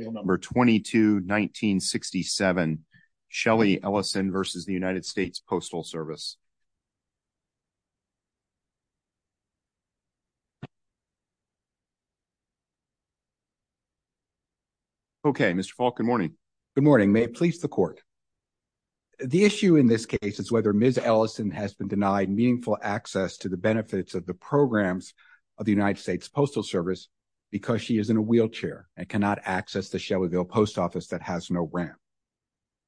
22-1967 Shelley Ellison v. USPS Good morning. May it please the court. The issue in this case is whether Ms. Ellison has been denied meaningful access to the benefits of the programs of the USPS because she is in a wheelchair and cannot access the Shelbyville post office that has no ramp.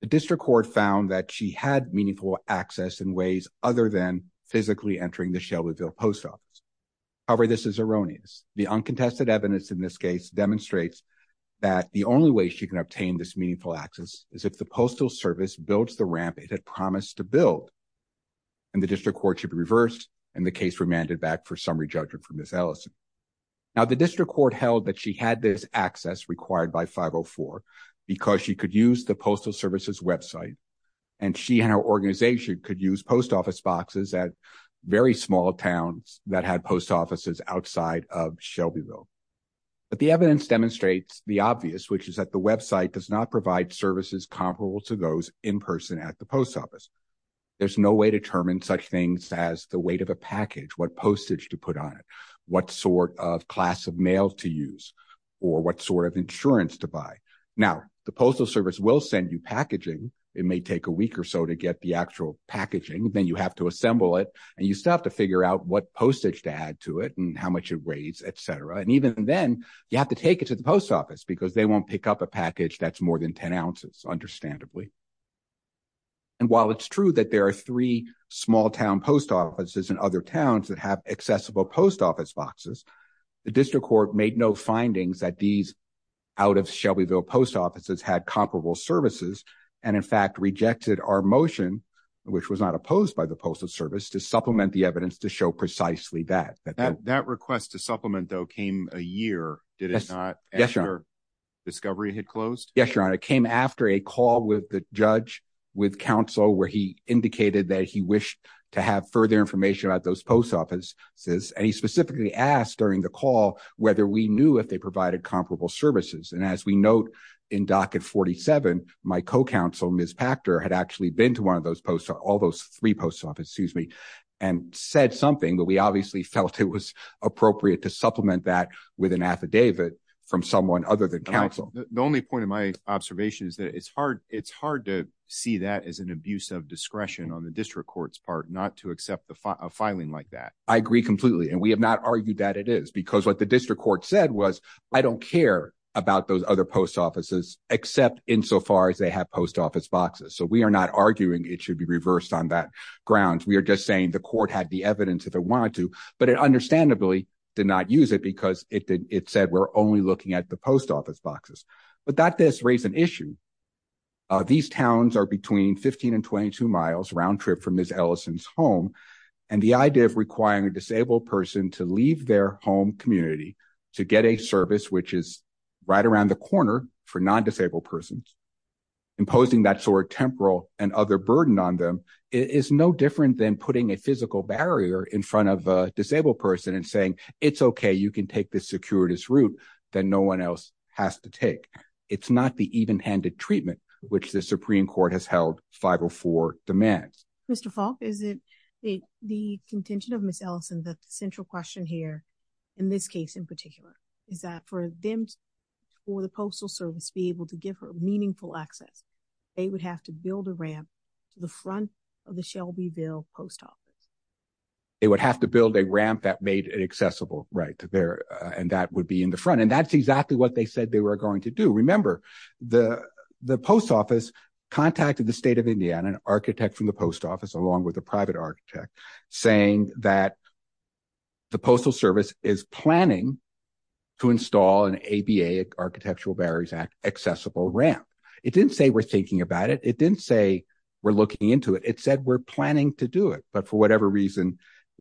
The district court found that she had meaningful access in ways other than physically entering the Shelbyville post office. However, this is erroneous. The uncontested evidence in this case demonstrates that the only way she can obtain this meaningful access is if the postal service builds the ramp it had promised to build and the district court should be reversed and the case remanded back for summary judgment for Ms. Ellison. Now, the district court held that she had this access required by 504 because she could use the postal services website and she and her organization could use post office boxes at very small towns that had post offices outside of Shelbyville. But the evidence demonstrates the obvious, which is that the website does not provide services comparable to those in person at the post office. There's no way to determine such things as the weight of a package, what class of mail to use, or what sort of insurance to buy. Now, the postal service will send you packaging. It may take a week or so to get the actual packaging. Then you have to assemble it and you still have to figure out what postage to add to it and how much it weighs, etc. And even then, you have to take it to the post office because they won't pick up a package that's more than 10 ounces, understandably. And while it's true that there are three small town post offices in other towns that have accessible post office boxes, the district court made no findings that these out of Shelbyville post offices had comparable services and in fact rejected our motion, which was not opposed by the postal service, to supplement the evidence to show precisely that. That request to supplement, though, came a year, did it not, after discovery had closed? Yes, Your Honor. It came after a call with the judge, with counsel, where he indicated that he wished to have further information about those post offices. And he specifically asked during the call whether we knew if they provided comparable services. And as we note in docket 47, my co-counsel, Ms. Pachter, had actually been to one of those posts, all those three post offices, excuse me, and said something, but we obviously felt it was appropriate to supplement that with an affidavit from someone other than counsel. The only point of my observation is that it's hard to see that as an abuse of discretion on the district court's part not to accept a filing like that. I agree completely. And we have not argued that it is, because what the district court said was, I don't care about those other post offices except insofar as they have post office boxes. So we are not arguing it should be reversed on that grounds. We are just saying the court had the evidence if it wanted to, but it understandably did not use it because it said we're only looking at the post office boxes. But that does raise an issue. These towns are between 15 and 22 miles round trip from Ms. Ellison's home. And the idea of requiring a disabled person to leave their home community to get a service, which is right around the corner for non-disabled persons, imposing that sort of temporal and other burden on them is no different than putting a physical barrier in front of a disabled person and saying, it's okay, you can take the securities route that no one else has to take. It's not the even handed treatment, which the Supreme Court has held 504 demands. Mr. Falk, is it the contention of Ms. Ellison that the central question here in this case in particular, is that for them or the postal service be able to give her meaningful access, they would have to build a ramp to the front of the Shelbyville post office. They would have to build a ramp that made it accessible right there. And that would be in the front. And that's exactly what they said they were going to do. Remember, the post office contacted the state of Indiana, an architect from the post office, along with a private architect saying that the postal service is planning to install an ABA, Architectural Barriers Act, accessible ramp. It didn't say we're thinking about it. It didn't say we're looking into it. It said we're planning to do it, but for whatever reason,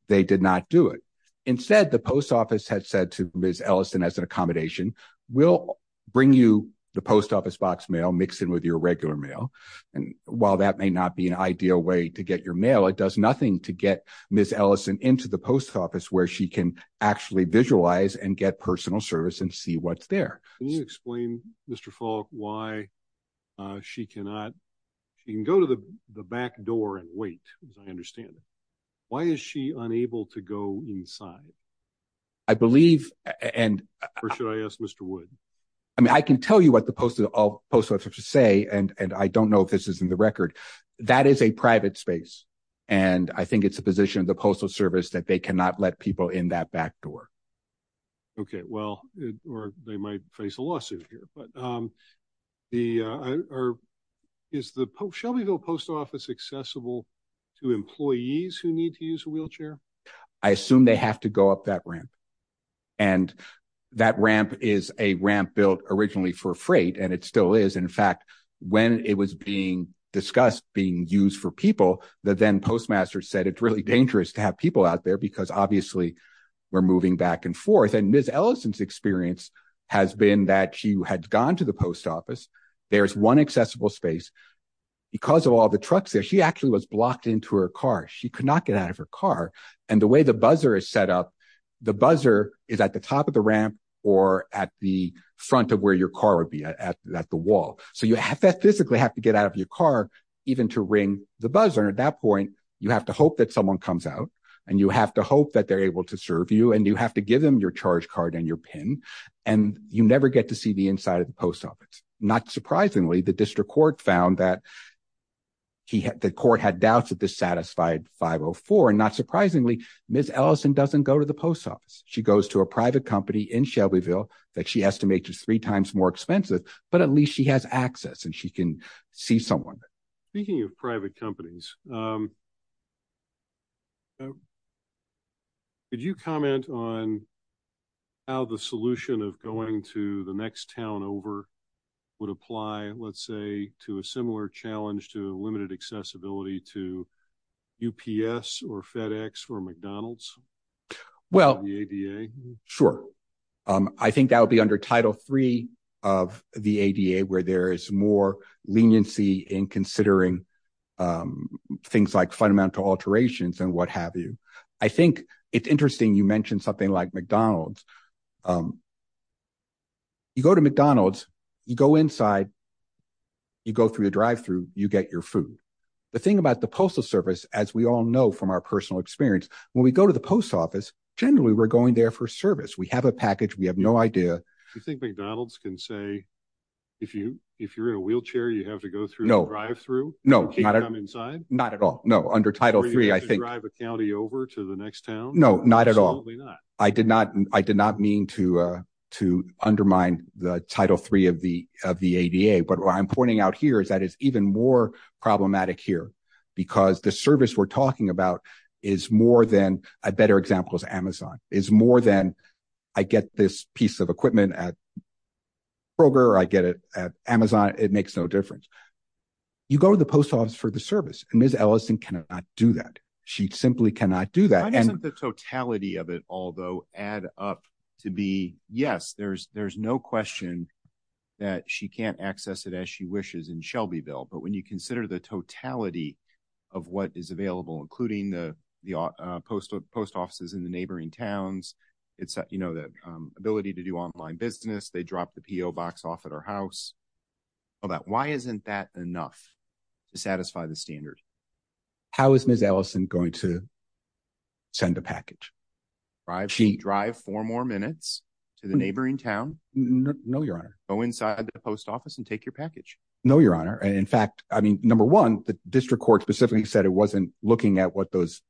they did not do it. Instead, the post office had said to Ms. Ellison as an accommodation, we'll bring you the post office box mail mixed in with your regular mail. And while that may not be an ideal way to get your mail, it does nothing to get Ms. Ellison into the post office where she can actually visualize and get personal service and see what's there. Can you explain, Mr. Falk, why she cannot, she can go to the back door and wait, as I understand it. Why is she unable to go inside? I believe, and- Or should I ask Mr. Wood? I mean, I can tell you what the post office has to say, and I don't know if this is in the record. That is a private space. And I think it's the position of the postal service that they cannot let people in that back door. Okay, well, or they might face a lawsuit here. But is the Shelbyville Post Office accessible to employees who need to use a wheelchair? I assume they have to go up that ramp. And that ramp is a ramp built originally for freight, and it still is. In fact, when it was being discussed being used for people, the then postmaster said it's really dangerous to have people out there because obviously we're moving back and forth. And Ms. Ellison's experience has been that she had gone to the post office. There's one accessible space. Because of all the trucks there, she actually was blocked into her car. She could not get out of her car. And the way the buzzer is set up, the buzzer is at the top of the ramp or at the front of where your car would be, at the wall. So you physically have to get out of your car even to ring the buzzer. And at that point, you have to hope that someone comes out. And you have to hope that they're able to serve you and you have to give them your charge card and your pin. And you never get to see the inside of the post office. Not surprisingly, the district court found that the court had doubts that this satisfied 504. And not surprisingly, Ms. Ellison doesn't go to the post office. She goes to a private company in Shelbyville that she estimates is three times more expensive, but at least she has access and she can see someone. Speaking of private companies, did you comment on how the solution of going to the next town over would apply, let's say, to a similar challenge to limited accessibility to UPS or FedEx or McDonald's? Well, sure. I think that would be under Title III of the ADA, where there is more leniency in considering things like fundamental alterations and what have you. I think it's interesting you mentioned something like McDonald's. You go to McDonald's, you go inside, you go through the drive-through, you get your food. The thing about the postal service, as we all know from our personal experience, when we go to the post office, generally, we're going there for service. We have a package. We have no idea. You think McDonald's can say, if you're in a wheelchair, you have to go through a drive-through? No. Can you come inside? Not at all. No. Under Title III, I think- Or you have to drive a county over to the next town? No, not at all. Absolutely not. I did not mean to undermine the Title III of the ADA, but what I'm pointing out here is that it's even more problematic here because the service we're talking about is more than, a better example is Amazon, is more than, I get this piece of equipment at Kroger, I get it at Amazon, it makes no difference. You go to the post office for the service, and Ms. Ellison cannot do that. She simply cannot do that. Why doesn't the totality of it, although, add up to be, yes, there's no question that she can't access it as she wishes in Shelbyville, but when you consider the totality of what is available, including the post offices in the neighboring towns, the ability to do online business, they dropped the PO box off at our house. Why isn't that enough to satisfy the standard? How is Ms. Ellison going to send a package? Drive four more minutes to the neighboring town? No, Your Honor. Go inside the post office and take your package? No, Your Honor. In fact, number one, the district court specifically said it wasn't looking at what those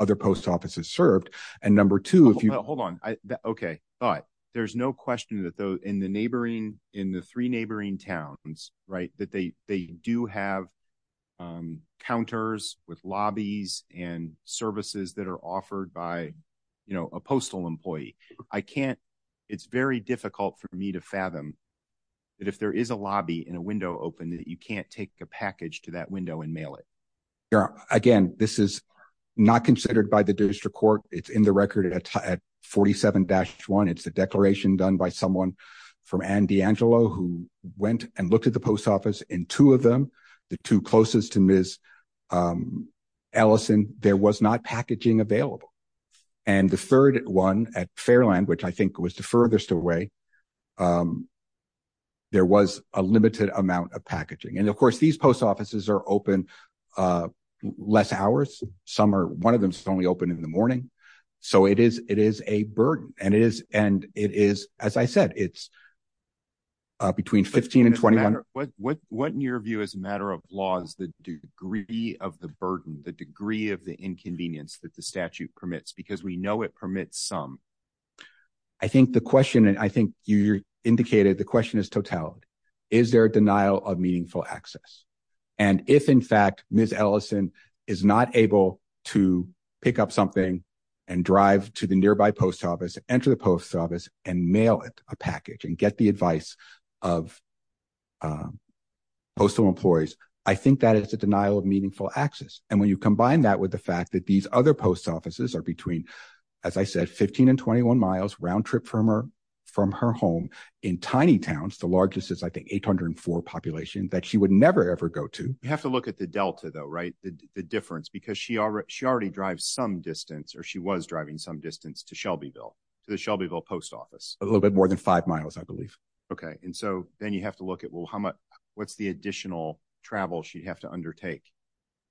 other post offices served, and number two, if you- Hold on. Okay. All right. There's no question that in the three neighboring towns, that they do have counters with lobbies and services that are offered by a postal employee. It's very difficult for me to fathom that if there is a lobby and a window open, that you can't take a package to that window and mail it. Again, this is not considered by the district court. It's in the record at 47-1. It's the declaration done by someone from Anne D'Angelo, who went and looked at the post office. In two of them, the two closest to Ms. Ellison, there was not packaging available. And the third one at Fairland, which I think was the furthest away, there was a limited amount of packaging. And of course, these post offices are open less hours. One of them is only open in the morning. So it is a burden. And it is, as I said, it's between 15 and 21- What, in your view, as a matter of law, is the degree of the burden, the degree of the inconvenience that the statute permits? Because we know it permits some. I think the question, and I think you indicated, the question is totality. Is there a denial of meaningful access? And if, in fact, Ms. Ellison is not able to pick up something and drive to the nearby post office, enter the post office and mail it a package and get the advice of postal employees, I think that is a denial of meaningful access. And when you combine that with the fact that these other post offices are between, as I said, 15 and 21 miles, round trip from her home in tiny towns, the largest is, I think, 804 population, that she would never, ever go to- You have to look at the delta though, right? The difference, because she already drives some distance or she was driving some distance to Shelbyville, to the Shelbyville post office. A little bit more than five miles, I believe. Okay. And so then you have to look at, well, what's the additional travel she'd have to undertake?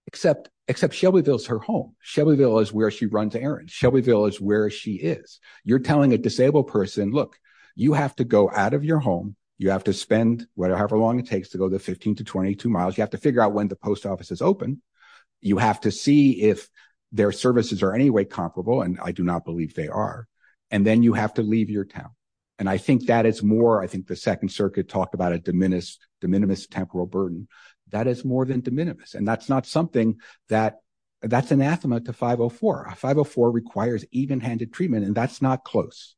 Except Shelbyville's her home. Shelbyville is where she runs errands. Shelbyville is where she is. You're telling a disabled person, look, you have to go out of your home. You have to spend whatever long it takes to go the 15 to 22 miles. You have to figure out when the post office is open. You have to see if their services are any way comparable. And I do not believe they are. And then you have to leave your town. And I think that is more, I think the second circuit talked about a de minimis temporal burden. That is more than de minimis. And that's not something that, that's anathema to 504. 504 requires even-handed treatment, and that's not close.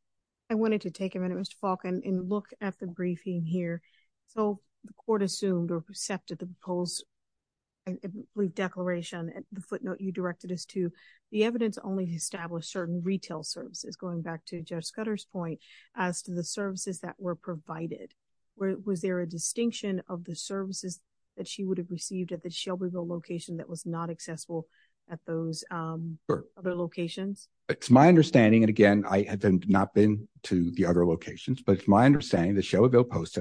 I wanted to take a minute, Mr. Falk, and look at the briefing here. So the court assumed or accepted the proposed, I believe, declaration. The footnote you directed us to, the evidence only established certain retail services, going back to Judge Scudder's point, as to the services that were provided. Was there a distinction of the services that she would have received at the location that was not accessible at those other locations? It's my understanding, and again, I have not been to the other locations, but it's my understanding that Shelbyville Post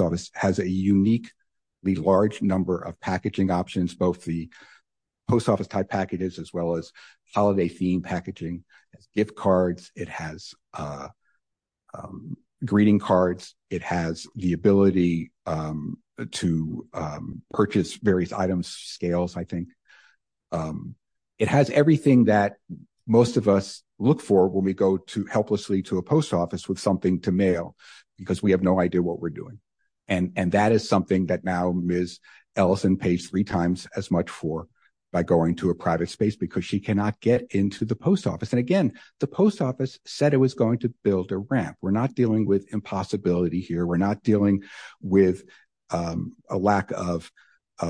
Office has a uniquely large number of packaging options, both the post office-type packages as well as holiday-themed packaging. It has gift cards. It has greeting cards. It has the ability to purchase various items, scales, I think. It has everything that most of us look for when we go helplessly to a post office with something to mail because we have no idea what we're doing. And that is something that now Ms. Ellison pays three times as much for by going to a private space because she cannot get into the post office. And again, the post office said it was going to build a ramp. We're not dealing with impossibility here. We're not dealing with a lack of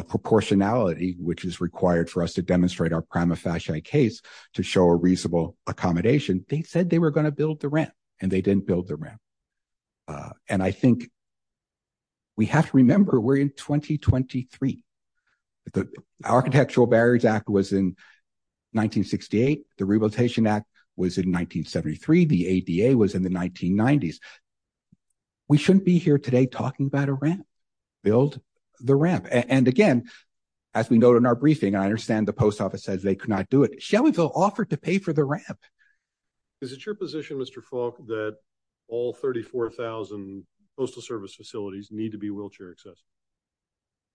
proportionality, which is required for us to demonstrate our prima facie case to show a reasonable accommodation. They said they were going to build the ramp, and they didn't build the ramp. And I think we have to remember, we're in 1923. The Architectural Barriers Act was in 1968. The Rehabilitation Act was in 1973. The ADA was in the 1990s. We shouldn't be here today talking about a ramp. Build the ramp. And again, as we note in our briefing, I understand the post office says they could not do it. Shelbyville offered to pay for the ramp. Is it your position, Mr. Falk, that all 34,000 postal service facilities need to be wheelchair accessible?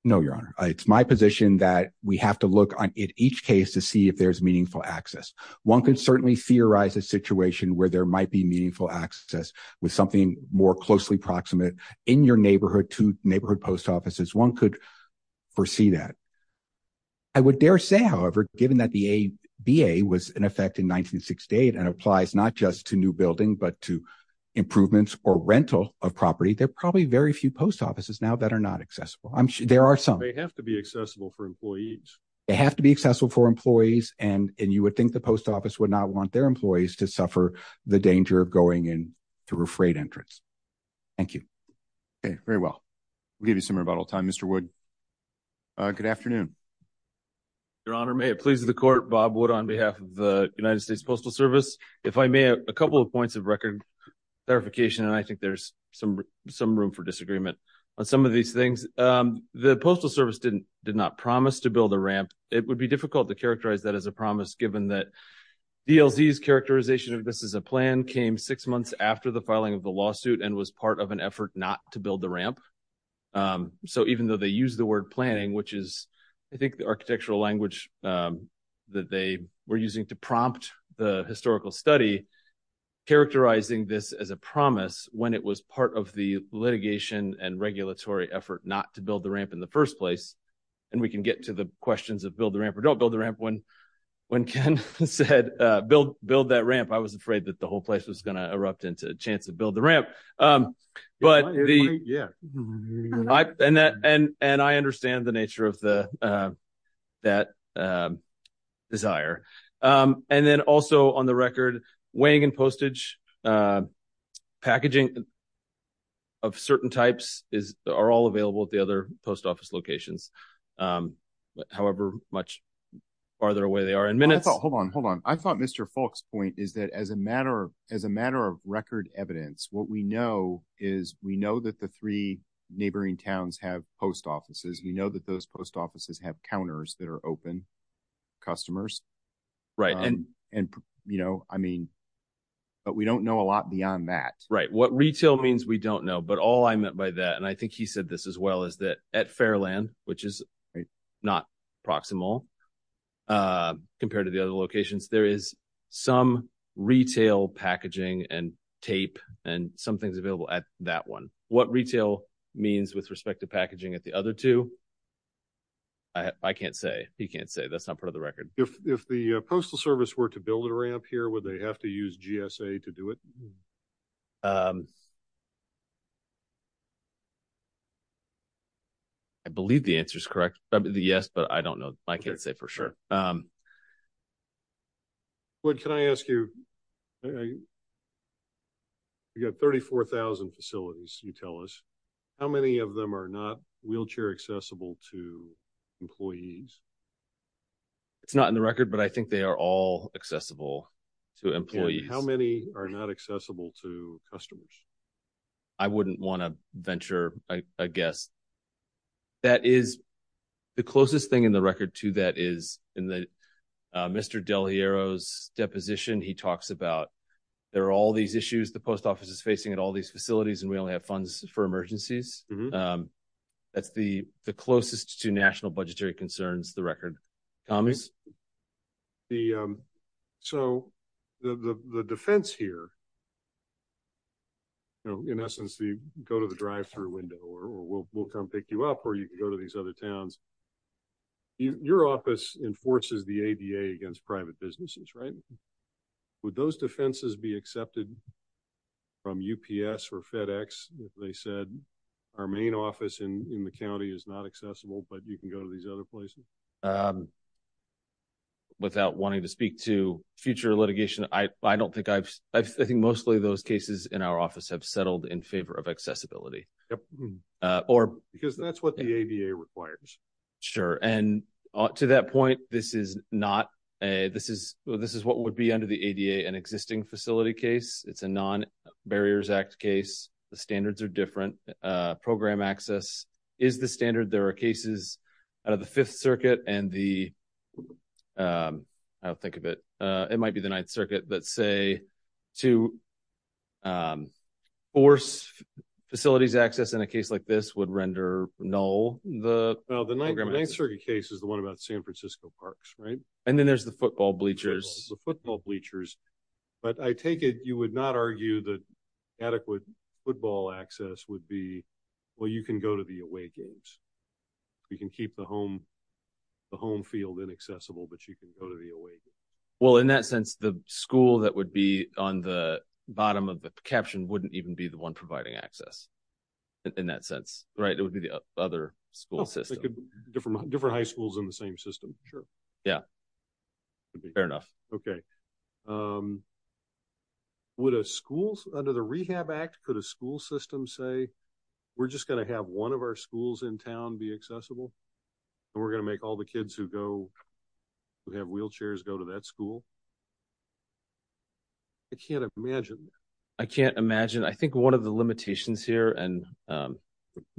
No, Your Honor. It's my position that we have to look at each case to see if there's meaningful access. One could certainly theorize a situation where there might be meaningful access with something more closely proximate in your neighborhood to neighborhood post offices. One could foresee that. I would dare say, however, given that the ADA was in effect in 1968 and applies not just to new building but to improvements or rental of property, there are probably very few post offices now that are not accessible. There are some. They have to be accessible for employees. They have to be accessible for employees, and you would think the post office would not want their employees to suffer the danger of going in through a freight entrance. Thank you. Okay, very well. We'll give you some rebuttal time, Mr. Wood. Good afternoon. Your Honor, may it please the Court, Bob Wood on behalf of the United States Postal Service. If I may, a couple of points of record clarification, and I think there's some room for disagreement on some of these things. The Postal Service did not promise to build a ramp. It would be difficult to characterize that as a promise given that DLZ's characterization of this as a plan came six months after the filing of the lawsuit and was part of an effort not to build the ramp. So even though they use the word planning, which is, I think, the architectural language that they were using to prompt the historical study, characterizing this as a promise when it was part of the litigation and regulatory effort not to build the ramp in the first place, and we can get to the questions of build the ramp or don't build the ramp when Ken said build that ramp. I was afraid that the whole place was going to erupt into a chance to build the ramp. And I understand the nature of that desire. And then also on the record, weighing and postage packaging of certain types are all available at the other post office locations. However much farther away they are in minutes. Hold on. Hold on. I thought Mr. Falk's point is that as a matter of record evidence, what we know is we know that the three neighboring towns have post offices. We know that those post offices have counters that are open to customers. But we don't know a lot beyond that. Right. What retail means we don't know. But all I meant by that, and I think he said this as well, is that at Fairland, which is not proximal compared to the other locations, there is some retail packaging and tape and some things available at that one. What retail means with packaging at the other two. I can't say he can't say that's not part of the record. If the Postal Service were to build a ramp here, would they have to use GSA to do it? I believe the answer is correct. Yes, but I don't know. I can't say for sure. But can I ask you, you got 34,000 facilities, you tell us how many of them are not wheelchair accessible to employees? It's not in the record, but I think they are all accessible to employees. How many are not accessible to customers? I wouldn't want to venture a guess. That is the closest thing in the record to that is in the Mr. Del Hierro's deposition, he talks about there are all these issues the post office is facing at all these facilities, and we only have funds for emergencies. That's the closest to national budgetary concerns the record. So the defense here, in essence, you go to the drive-thru window, or we'll come pick you up, you can go to these other towns. Your office enforces the ADA against private businesses, right? Would those defenses be accepted from UPS or FedEx if they said, our main office in the county is not accessible, but you can go to these other places? Without wanting to speak to future litigation, I don't think I've, I think mostly those cases in our office have settled in favor of accessibility. Because that's what the ADA requires. Sure. And to that point, this is not a, this is what would be under the ADA, an existing facility case. It's a non-Barriers Act case. The standards are different. Program access is the standard. There are cases out of the Fifth Circuit and the, I'll think of it, it might be the Ninth Circuit that say to force facilities access in a case like this would render null the program access. The Ninth Circuit case is the one about San Francisco parks, right? And then there's the football bleachers. The football bleachers. But I take it, you would not argue that adequate football access would be, well, you can go to the away games. You can keep the home field inaccessible, but you can go to the away game. Well, in that sense, the school that would be on the bottom of the caption wouldn't even be the one providing access in that sense, right? It would be the other school system. Different high schools in the same system. Sure. Yeah. Fair enough. Okay. Would a school, under the Rehab Act, could a school say, we're just going to have one of our schools in town be accessible, and we're going to make all the kids who have wheelchairs go to that school? I can't imagine. I can't imagine. I think one of the limitations here, and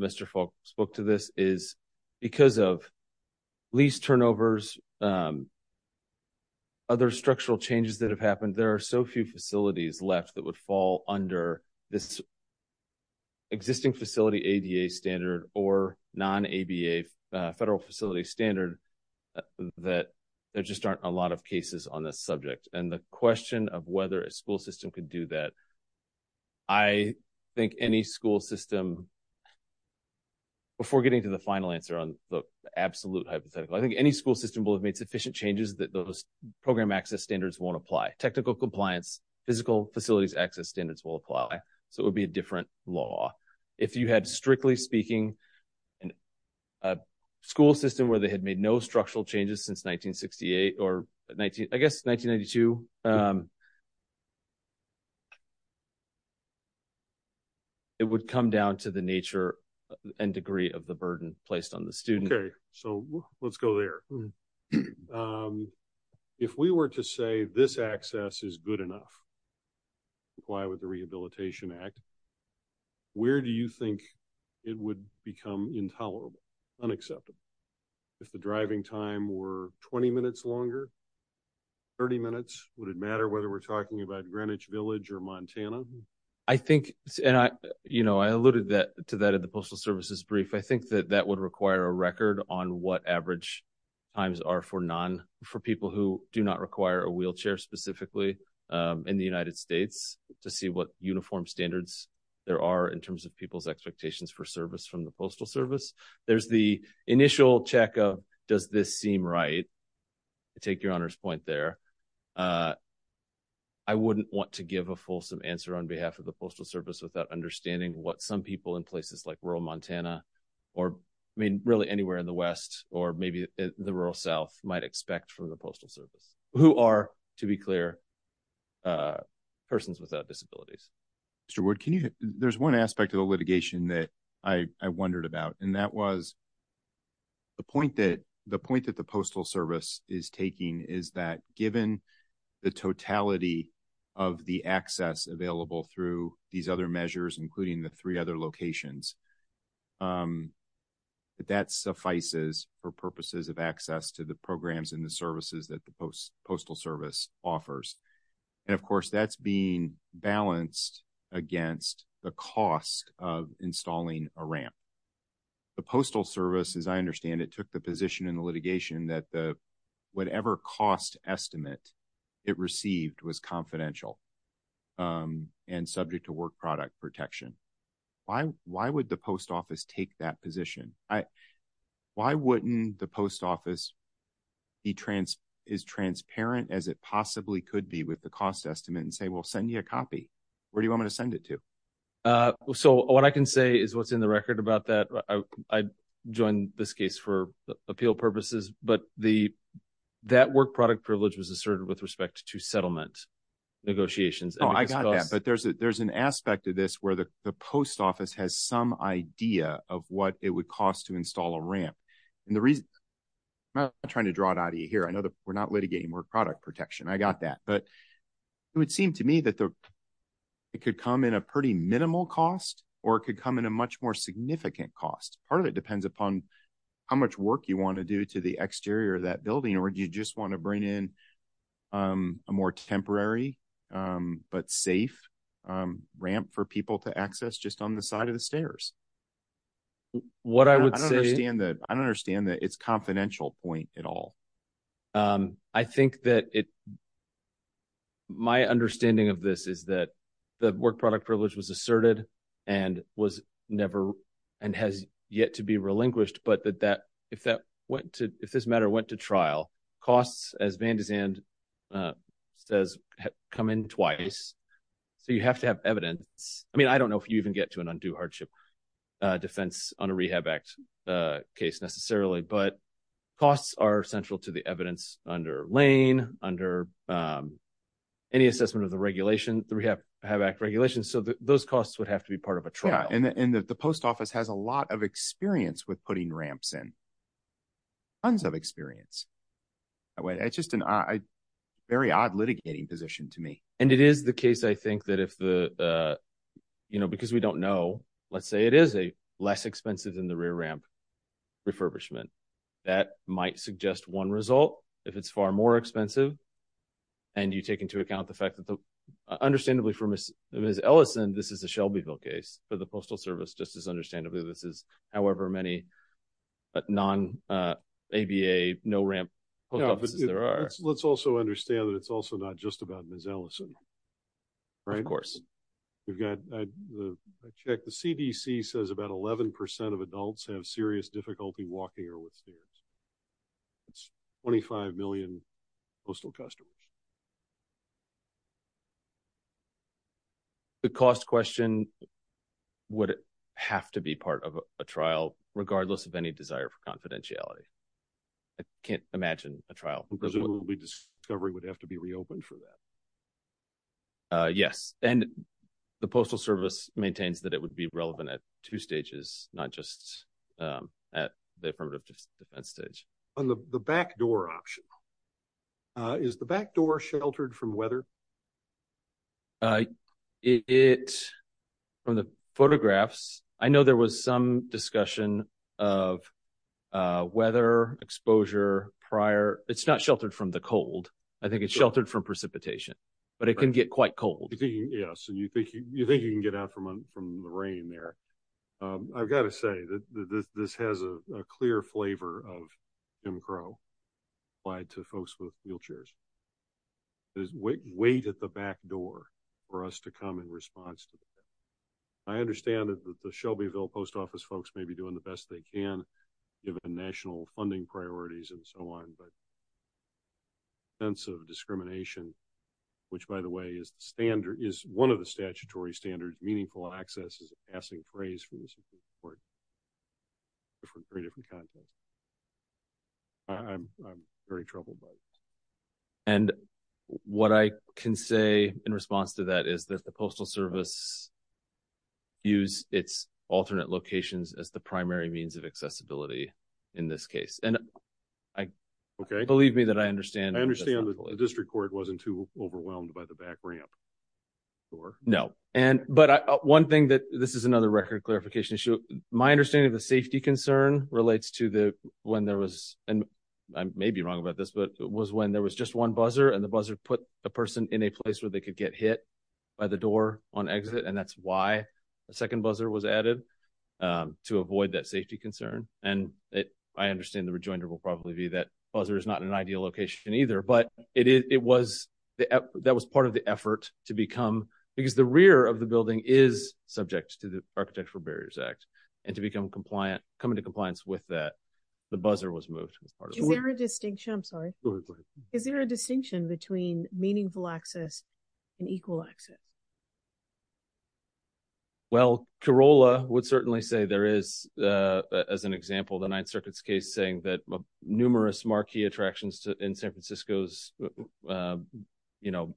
Mr. Falk spoke to this, is because of lease turnovers, other structural changes that have happened, there are so few facilities left that would fall under this existing facility ADA standard or non-ABA federal facility standard, that there just aren't a lot of cases on this subject. And the question of whether a school system could do that, I think any school system, before getting to the final answer on the absolute hypothetical, I think any school system will have made sufficient changes that those program access standards won't apply. Technical compliance, physical facilities access standards will apply. So it would be a different law. If you had, strictly speaking, a school system where they had made no structural changes since 1968, or I guess 1992, it would come down to the nature and degree of the burden placed on the student. Okay. So let's go there. If we were to say this access is good enough to comply with the Rehabilitation Act, where do you think it would become intolerable, unacceptable? If the driving time were 20 minutes longer, 30 minutes, would it matter whether we're talking about Greenwich Village or Montana? I think, and I, you know, I alluded to that at the Postal Service's brief, I think that that would require a record on what average times are for non, for people who do not require a wheelchair specifically in the United States to see what uniform standards there are in terms of people's expectations for service from the Postal Service. There's the initial check of, does this seem right? I take your Honor's point there. I wouldn't want to give a fulsome answer on behalf of the Postal Service without understanding what some people in places like rural Montana or, I mean, really anywhere in the West, or maybe the rural South might expect from the Postal Service, who are, to be clear, persons without disabilities. Mr. Wood, can you, there's one aspect of the litigation that I wondered about, and that was the point that, the point that the Postal Service is taking is that given the totality of the access available through these other measures, including the three other locations, that that suffices for purposes of access to the programs and the services that the Postal Service offers. And, of course, that's being balanced against the cost of installing a ramp. The Postal Service, as I understand it, took the position in the whatever cost estimate it received was confidential and subject to work product protection. Why, why would the Post Office take that position? I, why wouldn't the Post Office be trans, is transparent as it possibly could be with the cost estimate and say, well, send you a copy? Where do you want me to send it to? So, what I can say is what's in the record about that. I joined this case for appeal purposes, but the, that work product privilege was asserted with respect to settlement negotiations. Oh, I got that. But there's a, there's an aspect of this where the Post Office has some idea of what it would cost to install a ramp. And the reason, I'm not trying to draw it out of you here. I know that we're not litigating work product protection. I got that. But it would seem to me that the, it could come in a pretty minimal cost, or it could come in a much more significant cost. Part of it depends upon how much work you want to do to the exterior of that building, or do you just want to bring in a more temporary, but safe ramp for people to access just on the side of the stairs? What I would say. I don't understand that, I don't understand that it's confidential point at all. I think that it, my understanding of this is that the work product privilege was asserted and was never, and has yet to be relinquished. But that, that, if that went to, if this matter went to trial, costs as Van de Zand says, come in twice. So you have to have evidence. I mean, I don't know if you even get to an undue hardship defense on a Rehab Act case necessarily, but costs are central to the evidence under Lane, under any assessment of the regulation, the Rehab Act regulations. So those costs would have to be part of a trial. And the post office has a lot of experience with putting ramps in, tons of experience. It's just a very odd litigating position to me. And it is the case, I think that if the, you know, because we don't know, let's say it is a less expensive than the rear ramp refurbishment, that might suggest one result. If it's far more expensive and you take into account the fact that the, understandably for Ms. Ellison, this is a Shelbyville case for the postal service. Just as understandably, this is however many non ABA, no ramp offices there are. Let's also understand that it's also not just about Ms. Ellison, right? Of course. We've got the check. The CDC says about 11% of adults have serious difficulty walking or with stairs. It's 25 million postal customers. The cost question would have to be part of a trial, regardless of any desire for confidentiality. I can't imagine a trial. Presumably discovery would have to be reopened for that. Yes. And the postal service maintains that it would be relevant at two stages, not just at the affirmative defense stage. On the back door option, is the back door sheltered from weather? It, from the photographs, I know there was some discussion of weather exposure prior. It's not sheltered from the cold. I think it's sheltered from precipitation, but it can get quite cold. Yes. And you think you think you can get out from the rain there. I've got to say that this has a clear flavor of Jim Crow applied to folks with wheelchairs. There's weight at the back door for us to come in response. I understand that the Shelbyville post office folks may be doing the best they can given the national funding priorities and so on, but sense of discrimination, which, by the way, is the standard is one of the statutory standards, meaningful access is a passing phrase for this report. Very different context. I'm very troubled by it. And what I can say in response to that is that the postal service use its alternate locations as the primary means of accessibility in this case. And I, okay, believe me that I understand. I understand the district court wasn't too overwhelmed by the back ramp. No. And, but one thing that this is another record clarification issue. My understanding of the safety concern relates to the, when there was, and I may be wrong about this, but it was when there was just one buzzer and the buzzer put a person in a place where they could get hit by the door on exit. And that's why a second buzzer was added to avoid that buzzer is not an ideal location either, but it was, that was part of the effort to become, because the rear of the building is subject to the architectural barriers act and to become compliant, come into compliance with that. The buzzer was moved. Is there a distinction? I'm sorry. Is there a distinction between meaningful access and equal access? Well, Corolla would certainly say there is as an example, the ninth circuits case saying that numerous marquee attractions in San Francisco's, you know,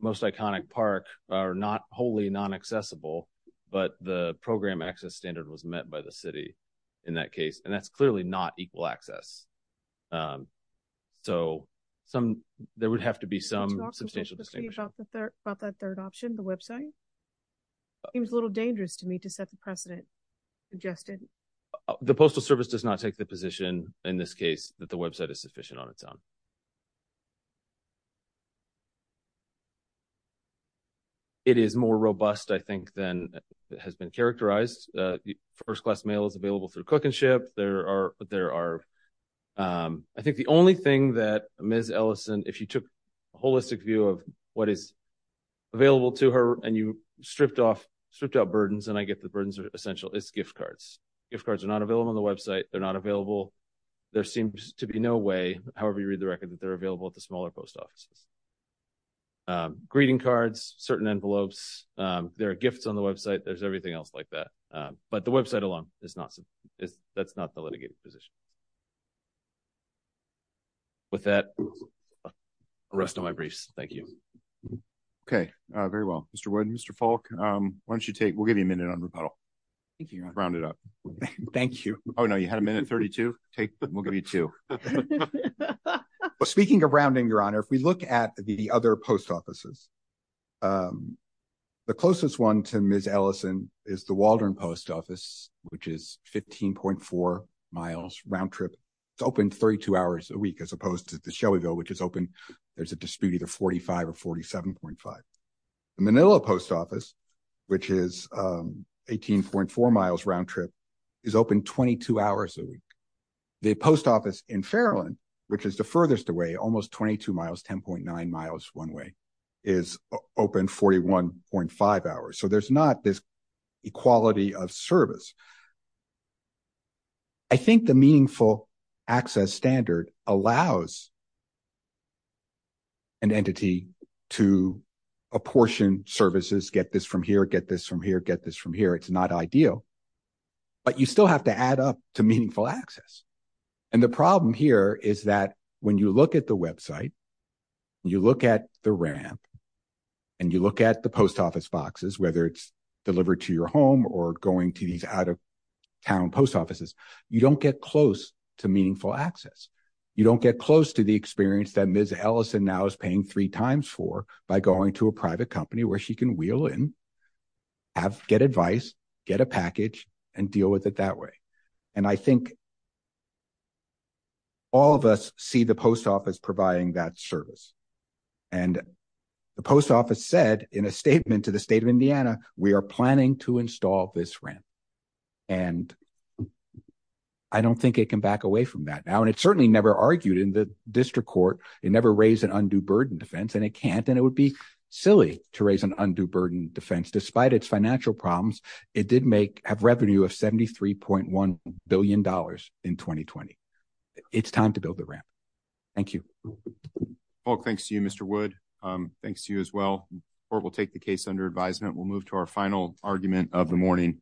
most iconic park are not wholly non-accessible, but the program access standard was met by the city in that case. And that's clearly not equal access. So some, there would have to be some substantial distinction. About that third option, the website. It was a little dangerous to me to set the precedent. Justin, the postal service does not take the position in this case that the website is sufficient on its own. It is more robust, I think, than has been characterized. The first class mail is available through cook and ship. There are, there are, I think the only thing that Ms. Ellison, if you took a holistic view of what is available to her and you stripped off stripped out burdens, and I get the burdens are essential. It's gift cards. If cards are not available on the website, they're not available. There seems to be no way. However, you read the record that they're available at the smaller post offices, greeting cards, certain envelopes. There are gifts on the website. There's everything else like that. But the website alone is not, that's not the litigating position with that rest of my briefs. Thank you. Okay. Very well, Mr. Wood, Mr. Falk, why don't you take, we'll give you a minute on rebuttal. Thank you. Round it up. Thank you. Oh, no, you had a minute 32. We'll give you two. Speaking of rounding your honor, if we look at the other post offices, the closest one to Ms. Ellison is the Waldron post office, which is 15.4 miles round trip. It's open 32 hours a week, as opposed to the Shelbyville, which is open. There's a dispute either 45 or 47.5. Manila post office, which is 18.4 miles round trip is open 22 hours a week. The post office in Fairland, which is the furthest away, almost 22 miles, 10.9 miles one way is open 41.5 hours. So there's not this equality of service. I think the meaningful access standard allows an entity to apportion services, get this from here, get this from here, get this from here. It's not ideal, but you still have to add up to meaningful access. And the problem here is that when you look at the website, you look at the ramp and you look at the post office boxes, whether it's delivered to your home or going to these out of town post offices, you don't get close to meaningful access. You don't get close to the experience that Ms. Ellison now is paying three times for by going to a private company where she can wheel in, get advice, get a package and deal with it that way. And I think all of us see the post office providing that service. And the post office said in a statement to the state of Indiana, we are planning to install this ramp. And I don't think it can back away from that now. And it certainly never argued in the district court. It never raised an undue burden defense and it can't, and it would be silly to raise an undue burden defense despite its financial problems. It did make have revenue of $73.1 billion in 2020. It's time to build the ramp. Thank you all. Thanks to you, Mr. Wood. Um, thanks to you as well, or we'll take the case under advisement. We'll move to our final argument of the morning.